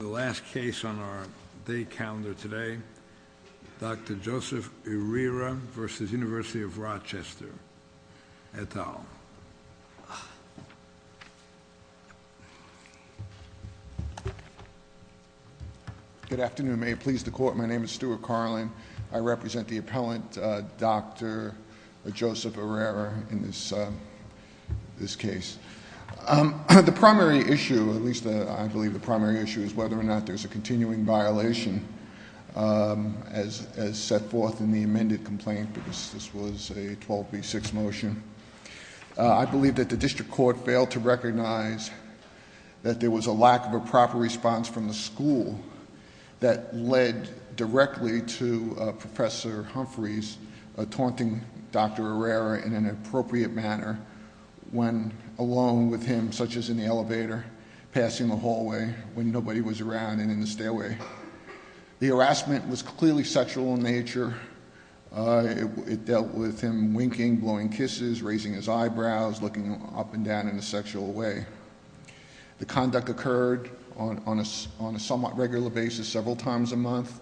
The last case on our day calendar today, Dr. Joseph Irrera v. University of Rochester, et al. Good afternoon. May it please the Court, my name is Stuart Carlin. I represent the appellant, Dr. Joseph Irrera, in this case. The primary issue, at least I believe the primary issue, is whether or not there is a continuing violation as set forth in the amended complaint. This was a 12B6 motion. I believe that the district court failed to recognize that there was a lack of a proper response from the school that led directly to Professor Humphreys taunting Dr. Irrera in an inappropriate manner when alone with him, such as in the elevator, passing the hallway when nobody was around and in the stairway. The harassment was clearly sexual in nature. It dealt with him winking, blowing kisses, raising his eyebrows, looking up and down in a sexual way. The conduct occurred on a somewhat regular basis, several times a month.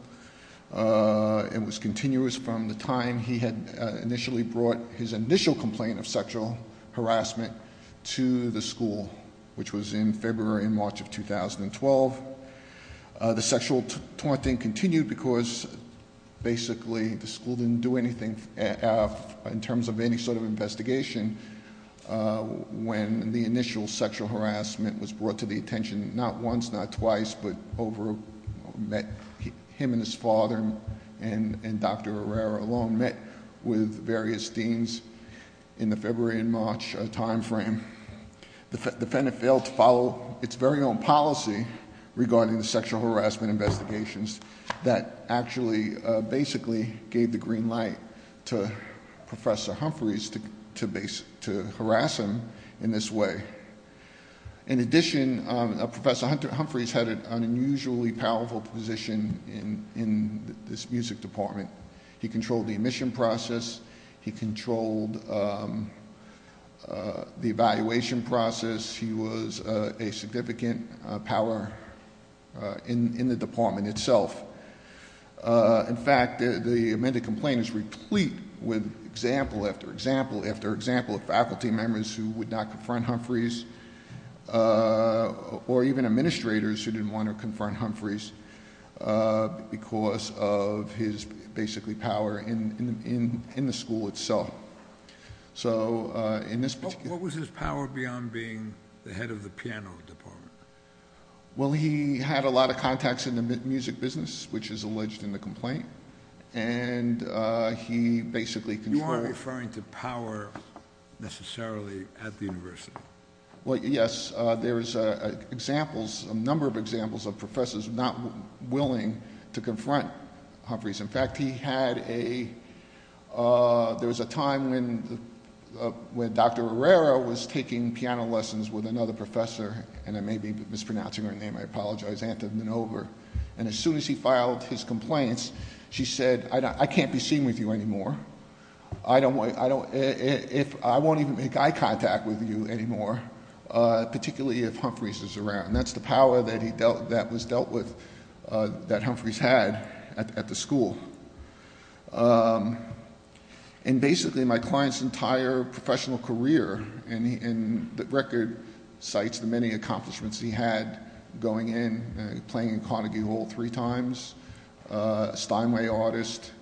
It was continuous from the time he had initially brought his initial complaint of sexual harassment to the school, which was in February and March of 2012. The sexual taunting continued because basically the school didn't do anything in terms of any sort of investigation when the initial sexual harassment was brought to the attention not once, not twice, but over, met him and his father and Dr. Irrera alone, met with various deans in the February and March time frame. The defendant failed to follow its very own policy regarding the sexual harassment investigations that actually basically gave the green light to Professor Humphreys to harass him in this way. In addition, Professor Humphreys had an unusually powerful position in this music department. He controlled the admission process. He controlled the evaluation process. He was a significant power in the department itself. In fact, the amended complaint is replete with example after example after example of faculty members who would not confront Humphreys or even administrators who didn't want to confront Humphreys because of his basically power in the school itself. What was his power beyond being the head of the piano department? Well, he had a lot of contacts in the music business, which is alleged in the complaint. You aren't referring to power necessarily at the university. Well, yes, there is a number of examples of professors not willing to confront Humphreys. In fact, there was a time when Dr. Irrera was taking piano lessons with another professor, and I may be mispronouncing her name, I apologize, Anton Minova. And as soon as he filed his complaints, she said, I can't be seen with you anymore. I won't even make eye contact with you anymore, particularly if Humphreys is around. That's the power that was dealt with, that Humphreys had at the school. And basically, my client's entire professional career in the record cites the many accomplishments he had going in, playing in Carnegie Hall three times, Steinway artist,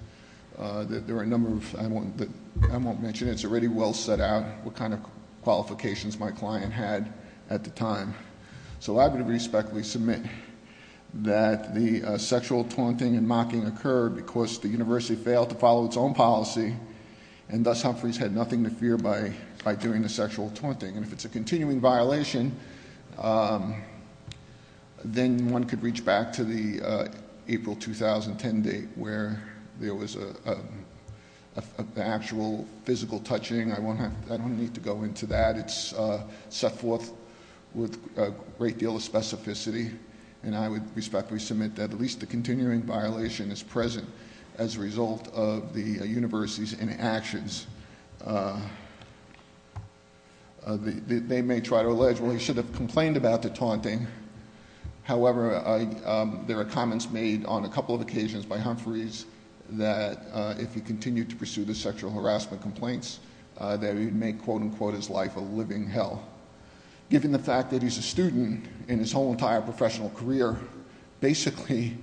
there are a number of, I won't mention it. It's already well set out what kind of qualifications my client had at the time. So I would respectfully submit that the sexual taunting and mocking occurred because the university failed to follow its own policy, and thus Humphreys had nothing to fear by doing the sexual taunting. And if it's a continuing violation, then one could reach back to the April 2010 date where there was an actual physical touching. I don't need to go into that. It's set forth with a great deal of specificity. And I would respectfully submit that at least the continuing violation is present as a result of the university's inactions. They may try to allege, well, he should have complained about the taunting. However, there are comments made on a couple of occasions by Humphreys that if he continued to pursue the sexual harassment complaints, that he would make, quote-unquote, his life a living hell. Given the fact that he's a student in his whole entire professional career, basically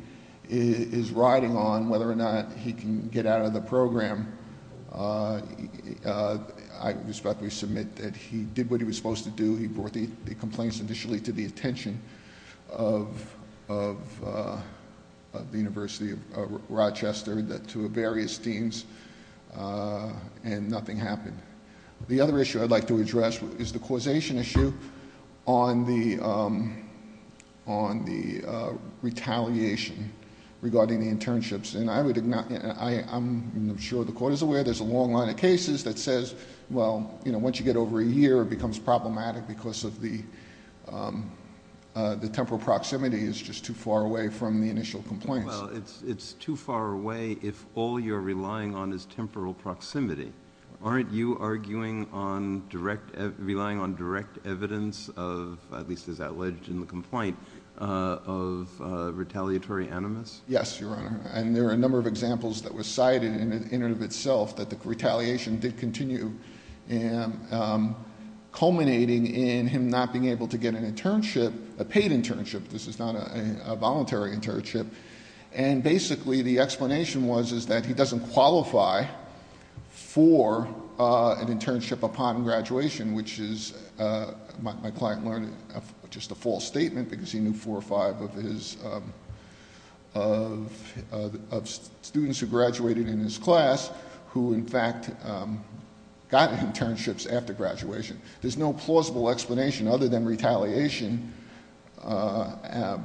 is riding on whether or not he can get out of the program, I would respectfully submit that he did what he was supposed to do. He brought the complaints initially to the attention of the University of Rochester, to various deans, and nothing happened. The other issue I'd like to address is the causation issue on the retaliation regarding the internships. And I'm sure the court is aware there's a long line of cases that says, well, once you get over a year, it becomes problematic because the temporal proximity is just too far away from the initial complaints. Well, it's too far away if all you're relying on is temporal proximity. Aren't you arguing on direct, relying on direct evidence of, at least as alleged in the complaint, of retaliatory animus? Yes, Your Honor, and there are a number of examples that were cited in and of itself that the retaliation did continue, culminating in him not being able to get an internship, a paid internship. This is not a voluntary internship. And basically the explanation was that he doesn't qualify for an internship upon graduation, which is, my client learned, just a false statement because he knew four or five of students who graduated in his class who in fact got internships after graduation. There's no plausible explanation other than retaliation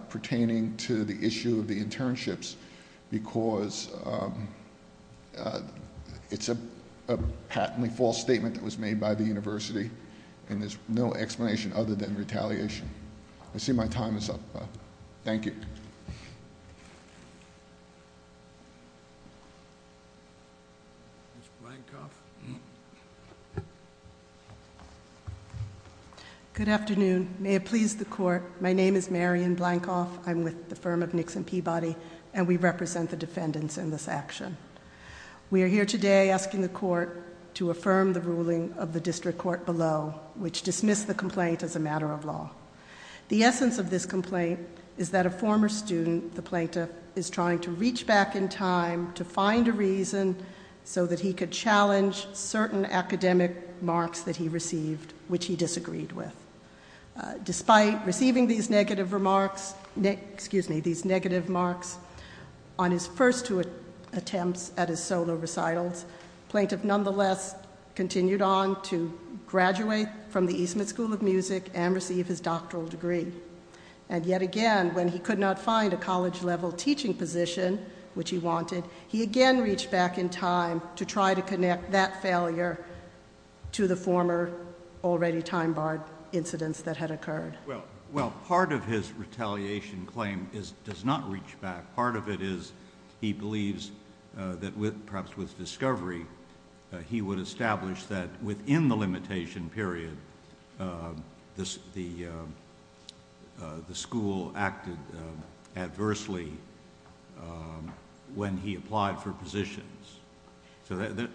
pertaining to the issue of the internships because it's a patently false statement that was made by the university, and there's no explanation other than retaliation. I see my time is up. Thank you. Thank you. Ms. Blankoff? Good afternoon. May it please the court, my name is Marion Blankoff. I'm with the firm of Nixon Peabody, and we represent the defendants in this action. We are here today asking the court to affirm the ruling of the district court below, which dismissed the complaint as a matter of law. The essence of this complaint is that a former student, the plaintiff, is trying to reach back in time to find a reason so that he could challenge certain academic marks that he received, which he disagreed with. Despite receiving these negative remarks on his first two attempts at his solo recitals, the plaintiff nonetheless continued on to graduate from the Eastman School of Music and receive his doctoral degree. And yet again, when he could not find a college-level teaching position, which he wanted, he again reached back in time to try to connect that failure to the former already time-barred incidents that had occurred. Well, part of his retaliation claim does not reach back. Part of it is he believes that perhaps with discovery, he would establish that within the limitation period, the school acted adversely when he applied for positions. So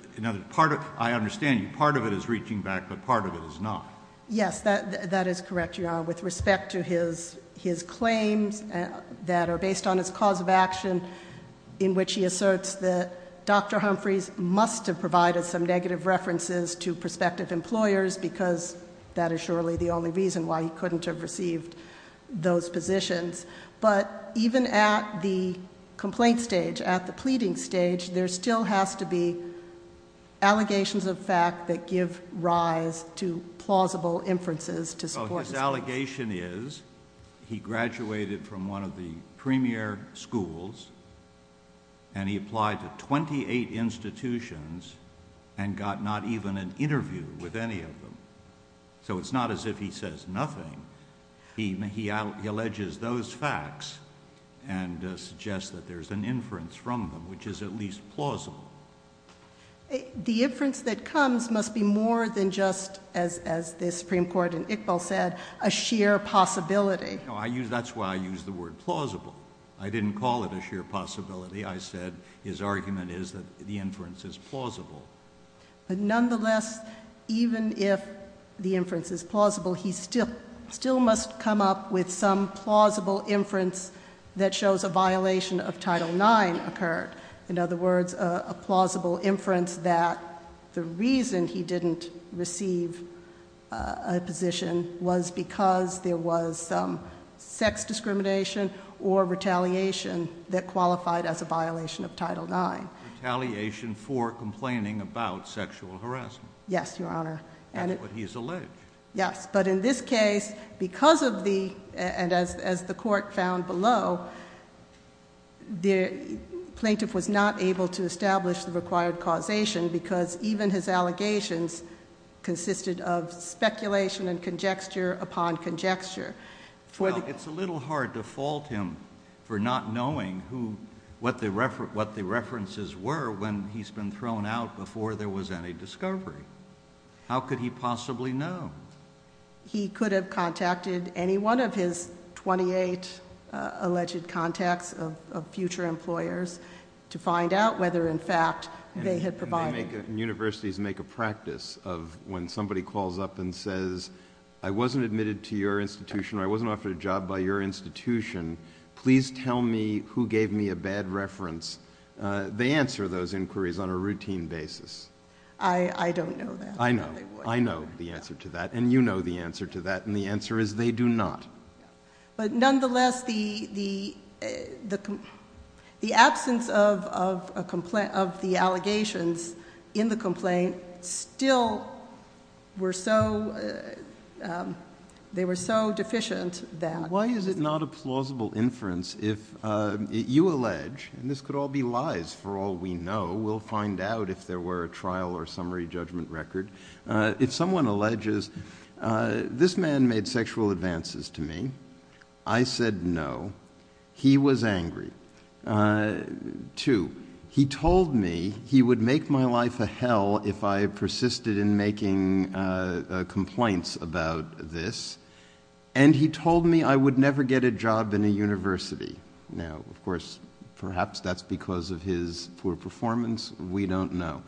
I understand you. Part of it is reaching back, but part of it is not. Yes, that is correct, Your Honor. With respect to his claims that are based on his cause of action, in which he asserts that Dr. Humphreys must have provided some negative references to prospective employers, because that is surely the only reason why he couldn't have received those positions. But even at the complaint stage, at the pleading stage, there still has to be allegations of fact that give rise to plausible inferences to support his claim. His allegation is he graduated from one of the premier schools, and he applied to 28 institutions and got not even an interview with any of them. So it's not as if he says nothing. He alleges those facts and suggests that there's an inference from them which is at least plausible. The inference that comes must be more than just, as the Supreme Court and Iqbal said, a sheer possibility. That's why I used the word plausible. I didn't call it a sheer possibility. I said his argument is that the inference is plausible. But nonetheless, even if the inference is plausible, he still must come up with some plausible inference that shows a violation of Title IX occurred. In other words, a plausible inference that the reason he didn't receive a position was because there was some sex discrimination or retaliation that qualified as a violation of Title IX. Retaliation for complaining about sexual harassment. Yes, Your Honor. That's what he's alleged. Yes, but in this case, because of the, and as the court found below, the plaintiff was not able to establish the required causation because even his allegations consisted of speculation and conjecture upon conjecture. Well, it's a little hard to fault him for not knowing what the references were when he's been thrown out before there was any discovery. How could he possibly know? He could have contacted any one of his 28 alleged contacts of future employers to find out whether, in fact, they had provided. Universities make a practice of when somebody calls up and says, I wasn't admitted to your institution or I wasn't offered a job by your institution. Please tell me who gave me a bad reference. They answer those inquiries on a routine basis. I don't know that. I know. I know the answer to that, and you know the answer to that, and the answer is they do not. But nonetheless, the absence of the allegations in the complaint still were so, they were so deficient that. Why is it not a plausible inference if you allege, and this could all be lies for all we know. We'll find out if there were a trial or summary judgment record. If someone alleges, this man made sexual advances to me. I said no. He was angry. Two, he told me he would make my life a hell if I persisted in making complaints about this, and he told me I would never get a job in a university. Now, of course, perhaps that's because of his poor performance. We don't know.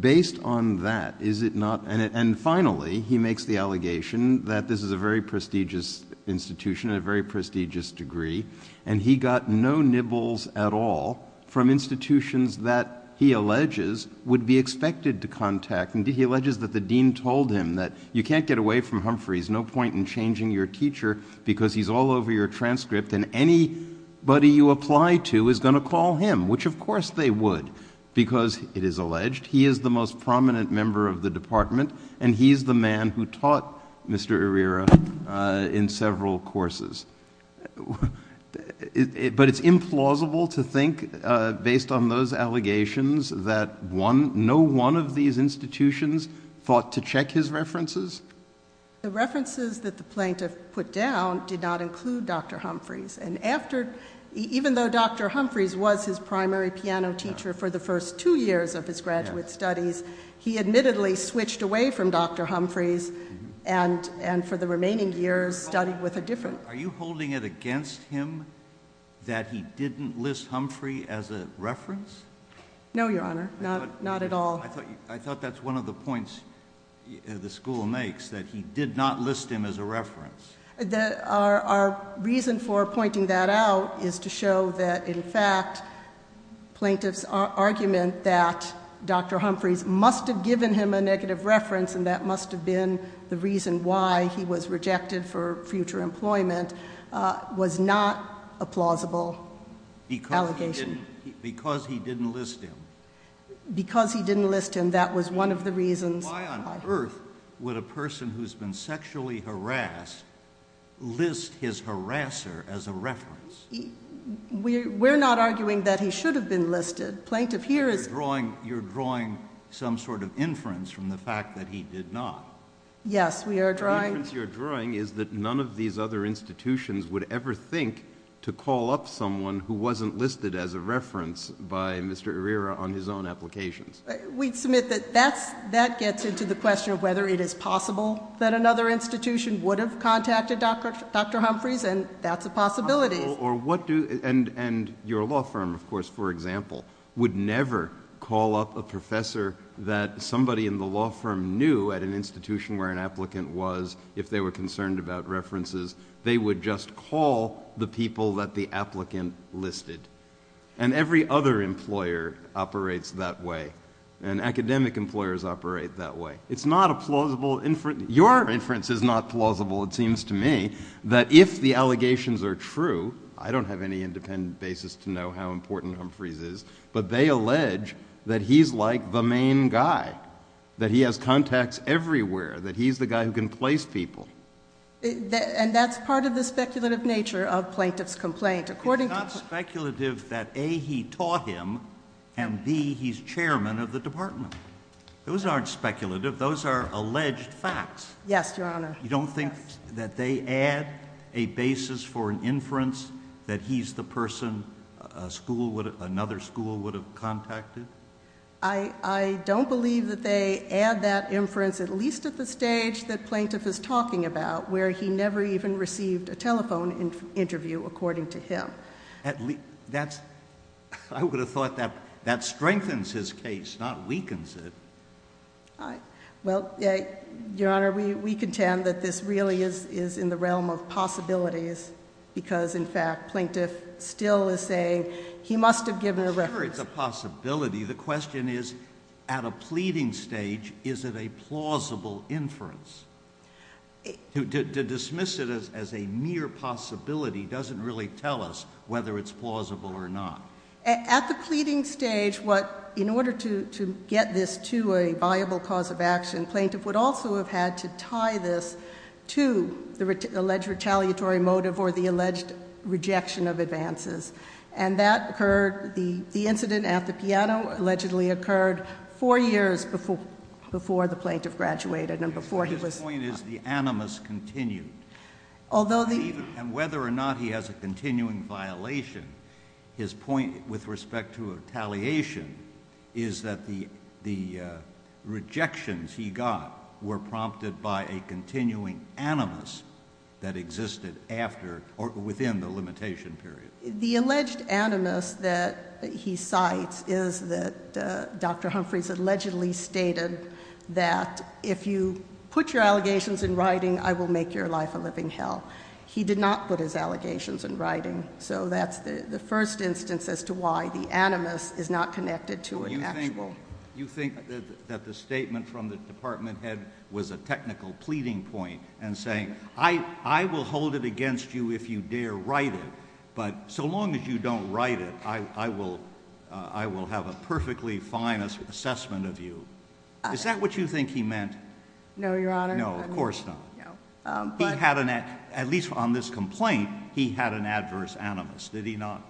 Based on that, is it not, and finally, he makes the allegation that this is a very prestigious institution and a very prestigious degree, and he got no nibbles at all from institutions that he alleges would be expected to contact, and he alleges that the dean told him that you can't get away from Humphrey. There's no point in changing your teacher because he's all over your transcript, and anybody you apply to is going to call him, which, of course, they would because, it is alleged, he is the most prominent member of the department, and he's the man who taught Mr. Herrera in several courses. But it's implausible to think, based on those allegations, that no one of these institutions thought to check his references? The references that the plaintiff put down did not include Dr. Humphreys, and even though Dr. Humphreys was his primary piano teacher for the first two years of his graduate studies, he admittedly switched away from Dr. Humphreys and for the remaining years studied with a different... Are you holding it against him that he didn't list Humphrey as a reference? No, Your Honor, not at all. I thought that's one of the points the school makes, that he did not list him as a reference. Our reason for pointing that out is to show that, in fact, plaintiff's argument that Dr. Humphreys must have given him a negative reference and that must have been the reason why he was rejected for future employment was not a plausible allegation. Because he didn't list him. Because he didn't list him, that was one of the reasons. Why on earth would a person who's been sexually harassed list his harasser as a reference? We're not arguing that he should have been listed. Plaintiff here is... You're drawing some sort of inference from the fact that he did not. Yes, we are drawing... The inference you're drawing is that none of these other institutions would ever think to call up someone who wasn't listed as a reference by Mr. Herrera on his own applications. We submit that that gets into the question of whether it is possible that another institution would have contacted Dr. Humphreys, and that's a possibility. And your law firm, of course, for example, would never call up a professor that somebody in the law firm knew at an institution where an applicant was, if they were concerned about references. They would just call the people that the applicant listed. And every other employer operates that way. And academic employers operate that way. It's not a plausible inference. Your inference is not plausible, it seems to me, that if the allegations are true, I don't have any independent basis to know how important Humphreys is, but they allege that he's like the main guy, that he has contacts everywhere, that he's the guy who can place people. And that's part of the speculative nature of plaintiff's complaint. It's not speculative that A, he taught him, and B, he's chairman of the department. Those aren't speculative. Those are alleged facts. Yes, Your Honor. You don't think that they add a basis for an inference that he's the person another school would have contacted? I don't believe that they add that inference, at least at the stage that plaintiff is talking about, where he never even received a telephone interview, according to him. I would have thought that strengthens his case, not weakens it. Well, Your Honor, we contend that this really is in the realm of possibilities because, in fact, plaintiff still is saying he must have given a reference. Sure, it's a possibility. The question is, at a pleading stage, is it a plausible inference? To dismiss it as a mere possibility doesn't really tell us whether it's plausible or not. At the pleading stage, in order to get this to a viable cause of action, plaintiff would also have had to tie this to the alleged retaliatory motive or the alleged rejection of advances. The incident at the piano allegedly occurred four years before the plaintiff graduated. His point is the animus continued. And whether or not he has a continuing violation, his point with respect to retaliation is that the rejections he got were prompted by a continuing animus that existed within the limitation period. The alleged animus that he cites is that Dr. Humphreys allegedly stated that if you put your allegations in writing, I will make your life a living hell. He did not put his allegations in writing. So that's the first instance as to why the animus is not connected to an actual. You think that the statement from the department head was a technical pleading point and saying, I will hold it against you if you dare write it, but so long as you don't write it, I will have a perfectly fine assessment of you. Is that what you think he meant? No, Your Honor. No, of course not. At least on this complaint, he had an adverse animus, did he not?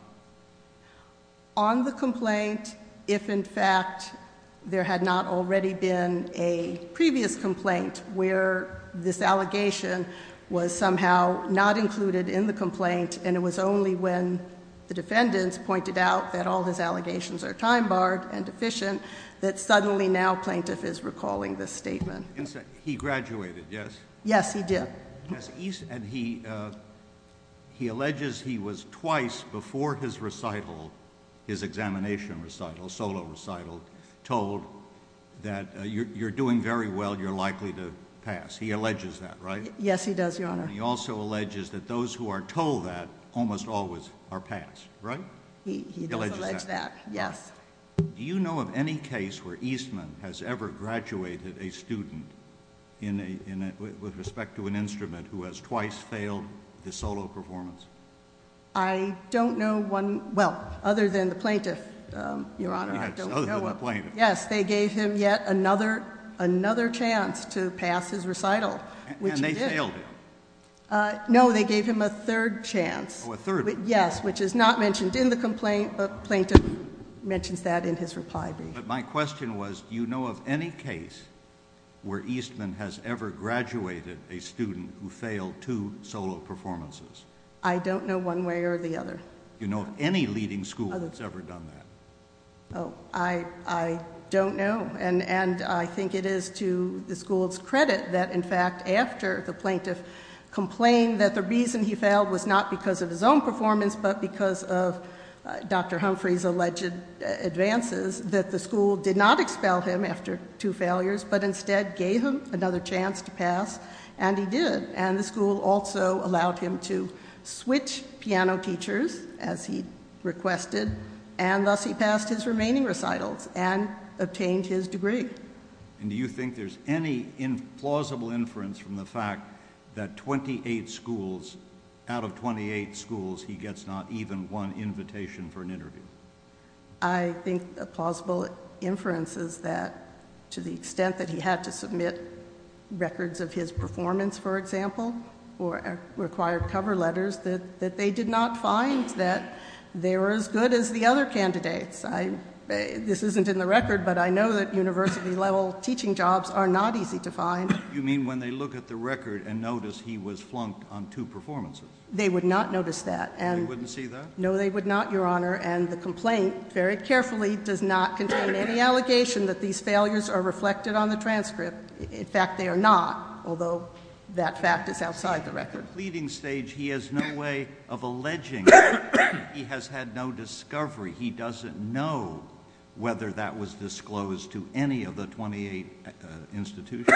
On the complaint, if in fact there had not already been a previous complaint where this allegation was somehow not included in the complaint and it was only when the defendants pointed out that all his allegations are time-barred and deficient that suddenly now plaintiff is recalling this statement. He graduated, yes? Yes, he did. And he alleges he was twice before his recital, his examination recital, solo recital, told that you're doing very well, you're likely to pass. Yes, he does, Your Honor. And he also alleges that those who are told that almost always are passed, right? He does allege that, yes. Do you know of any case where Eastman has ever graduated a student with respect to an instrument who has twice failed the solo performance? I don't know one, well, other than the plaintiff, Your Honor. Yes, other than the plaintiff. Yes, they gave him yet another chance to pass his recital, which he did. They failed him. No, they gave him a third chance. Oh, a third. Yes, which is not mentioned in the complaint, but plaintiff mentions that in his reply. But my question was do you know of any case where Eastman has ever graduated a student who failed two solo performances? I don't know one way or the other. Do you know of any leading school that's ever done that? I don't know, and I think it is to the school's credit that, in fact, after the plaintiff complained that the reason he failed was not because of his own performance but because of Dr. Humphrey's alleged advances, that the school did not expel him after two failures but instead gave him another chance to pass, and he did. And the school also allowed him to switch piano teachers, as he requested, and thus he passed his remaining recitals and obtained his degree. And do you think there's any plausible inference from the fact that out of 28 schools, he gets not even one invitation for an interview? I think a plausible inference is that to the extent that he had to submit records of his performance, for example, or required cover letters, that they did not find that they were as good as the other candidates. This isn't in the record, but I know that university-level teaching jobs are not easy to find. You mean when they look at the record and notice he was flunked on two performances? They would not notice that. They wouldn't see that? No, they would not, Your Honor, and the complaint very carefully does not contain any allegation that these failures are reflected on the transcript. In fact, they are not, although that fact is outside the record. At the pleading stage, he has no way of alleging that he has had no discovery. He doesn't know whether that was disclosed to any of the 28 institutions.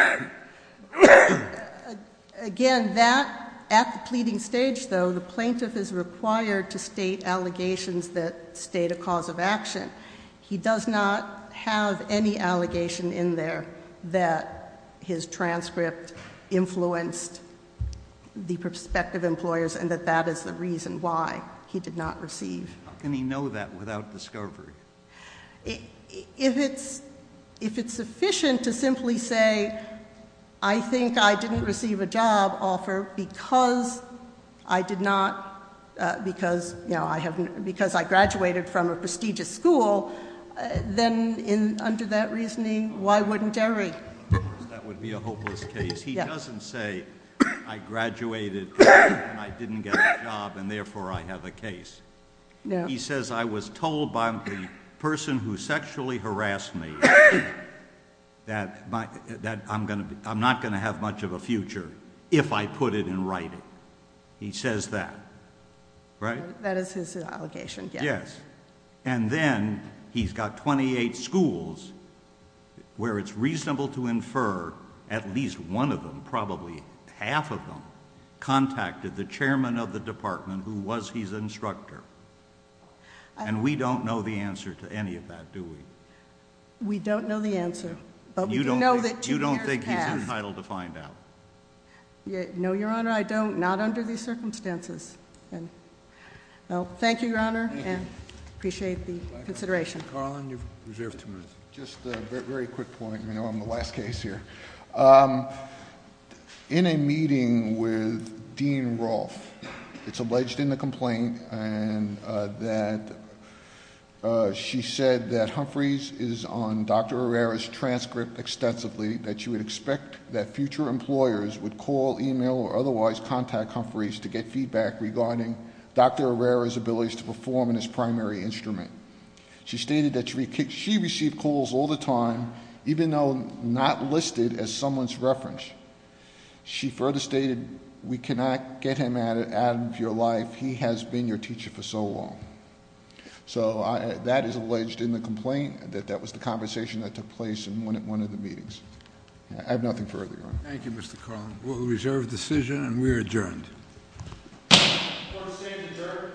Again, that, at the pleading stage, though, the plaintiff is required to state allegations that state a cause of action. He does not have any allegation in there that his transcript influenced the prospective employers and that that is the reason why he did not receive. How can he know that without discovery? If it's sufficient to simply say, I think I didn't receive a job offer because I did not, because I graduated from a prestigious school, then under that reasoning, why wouldn't Derry? Of course, that would be a hopeless case. He doesn't say, I graduated and I didn't get a job and therefore I have a case. He says, I was told by the person who sexually harassed me that I'm not going to have much of a future if I put it in writing. He says that, right? That is his allegation, yes. Yes. And then he's got 28 schools where it's reasonable to infer at least one of them, probably half of them, contacted the chairman of the department who was his instructor. And we don't know the answer to any of that, do we? We don't know the answer. You don't think he's entitled to find out? No, Your Honor, I don't. Not under these circumstances. Thank you, Your Honor, and appreciate the consideration. Carlin, you've reserved two minutes. Just a very quick point. I'm the last case here. In a meeting with Dean Rolfe, it's alleged in the complaint that she said that Humphreys is on Dr. Herrera's list and would expect that future employers would call, email, or otherwise contact Humphreys to get feedback regarding Dr. Herrera's abilities to perform in his primary instrument. She stated that she received calls all the time, even though not listed as someone's reference. She further stated, we cannot get him out of your life. He has been your teacher for so long. So that is alleged in the complaint. That was the conversation that took place in one of the meetings. I have nothing further, Your Honor. Thank you, Mr. Carlin. We'll reserve the decision, and we are adjourned. Court is adjourned.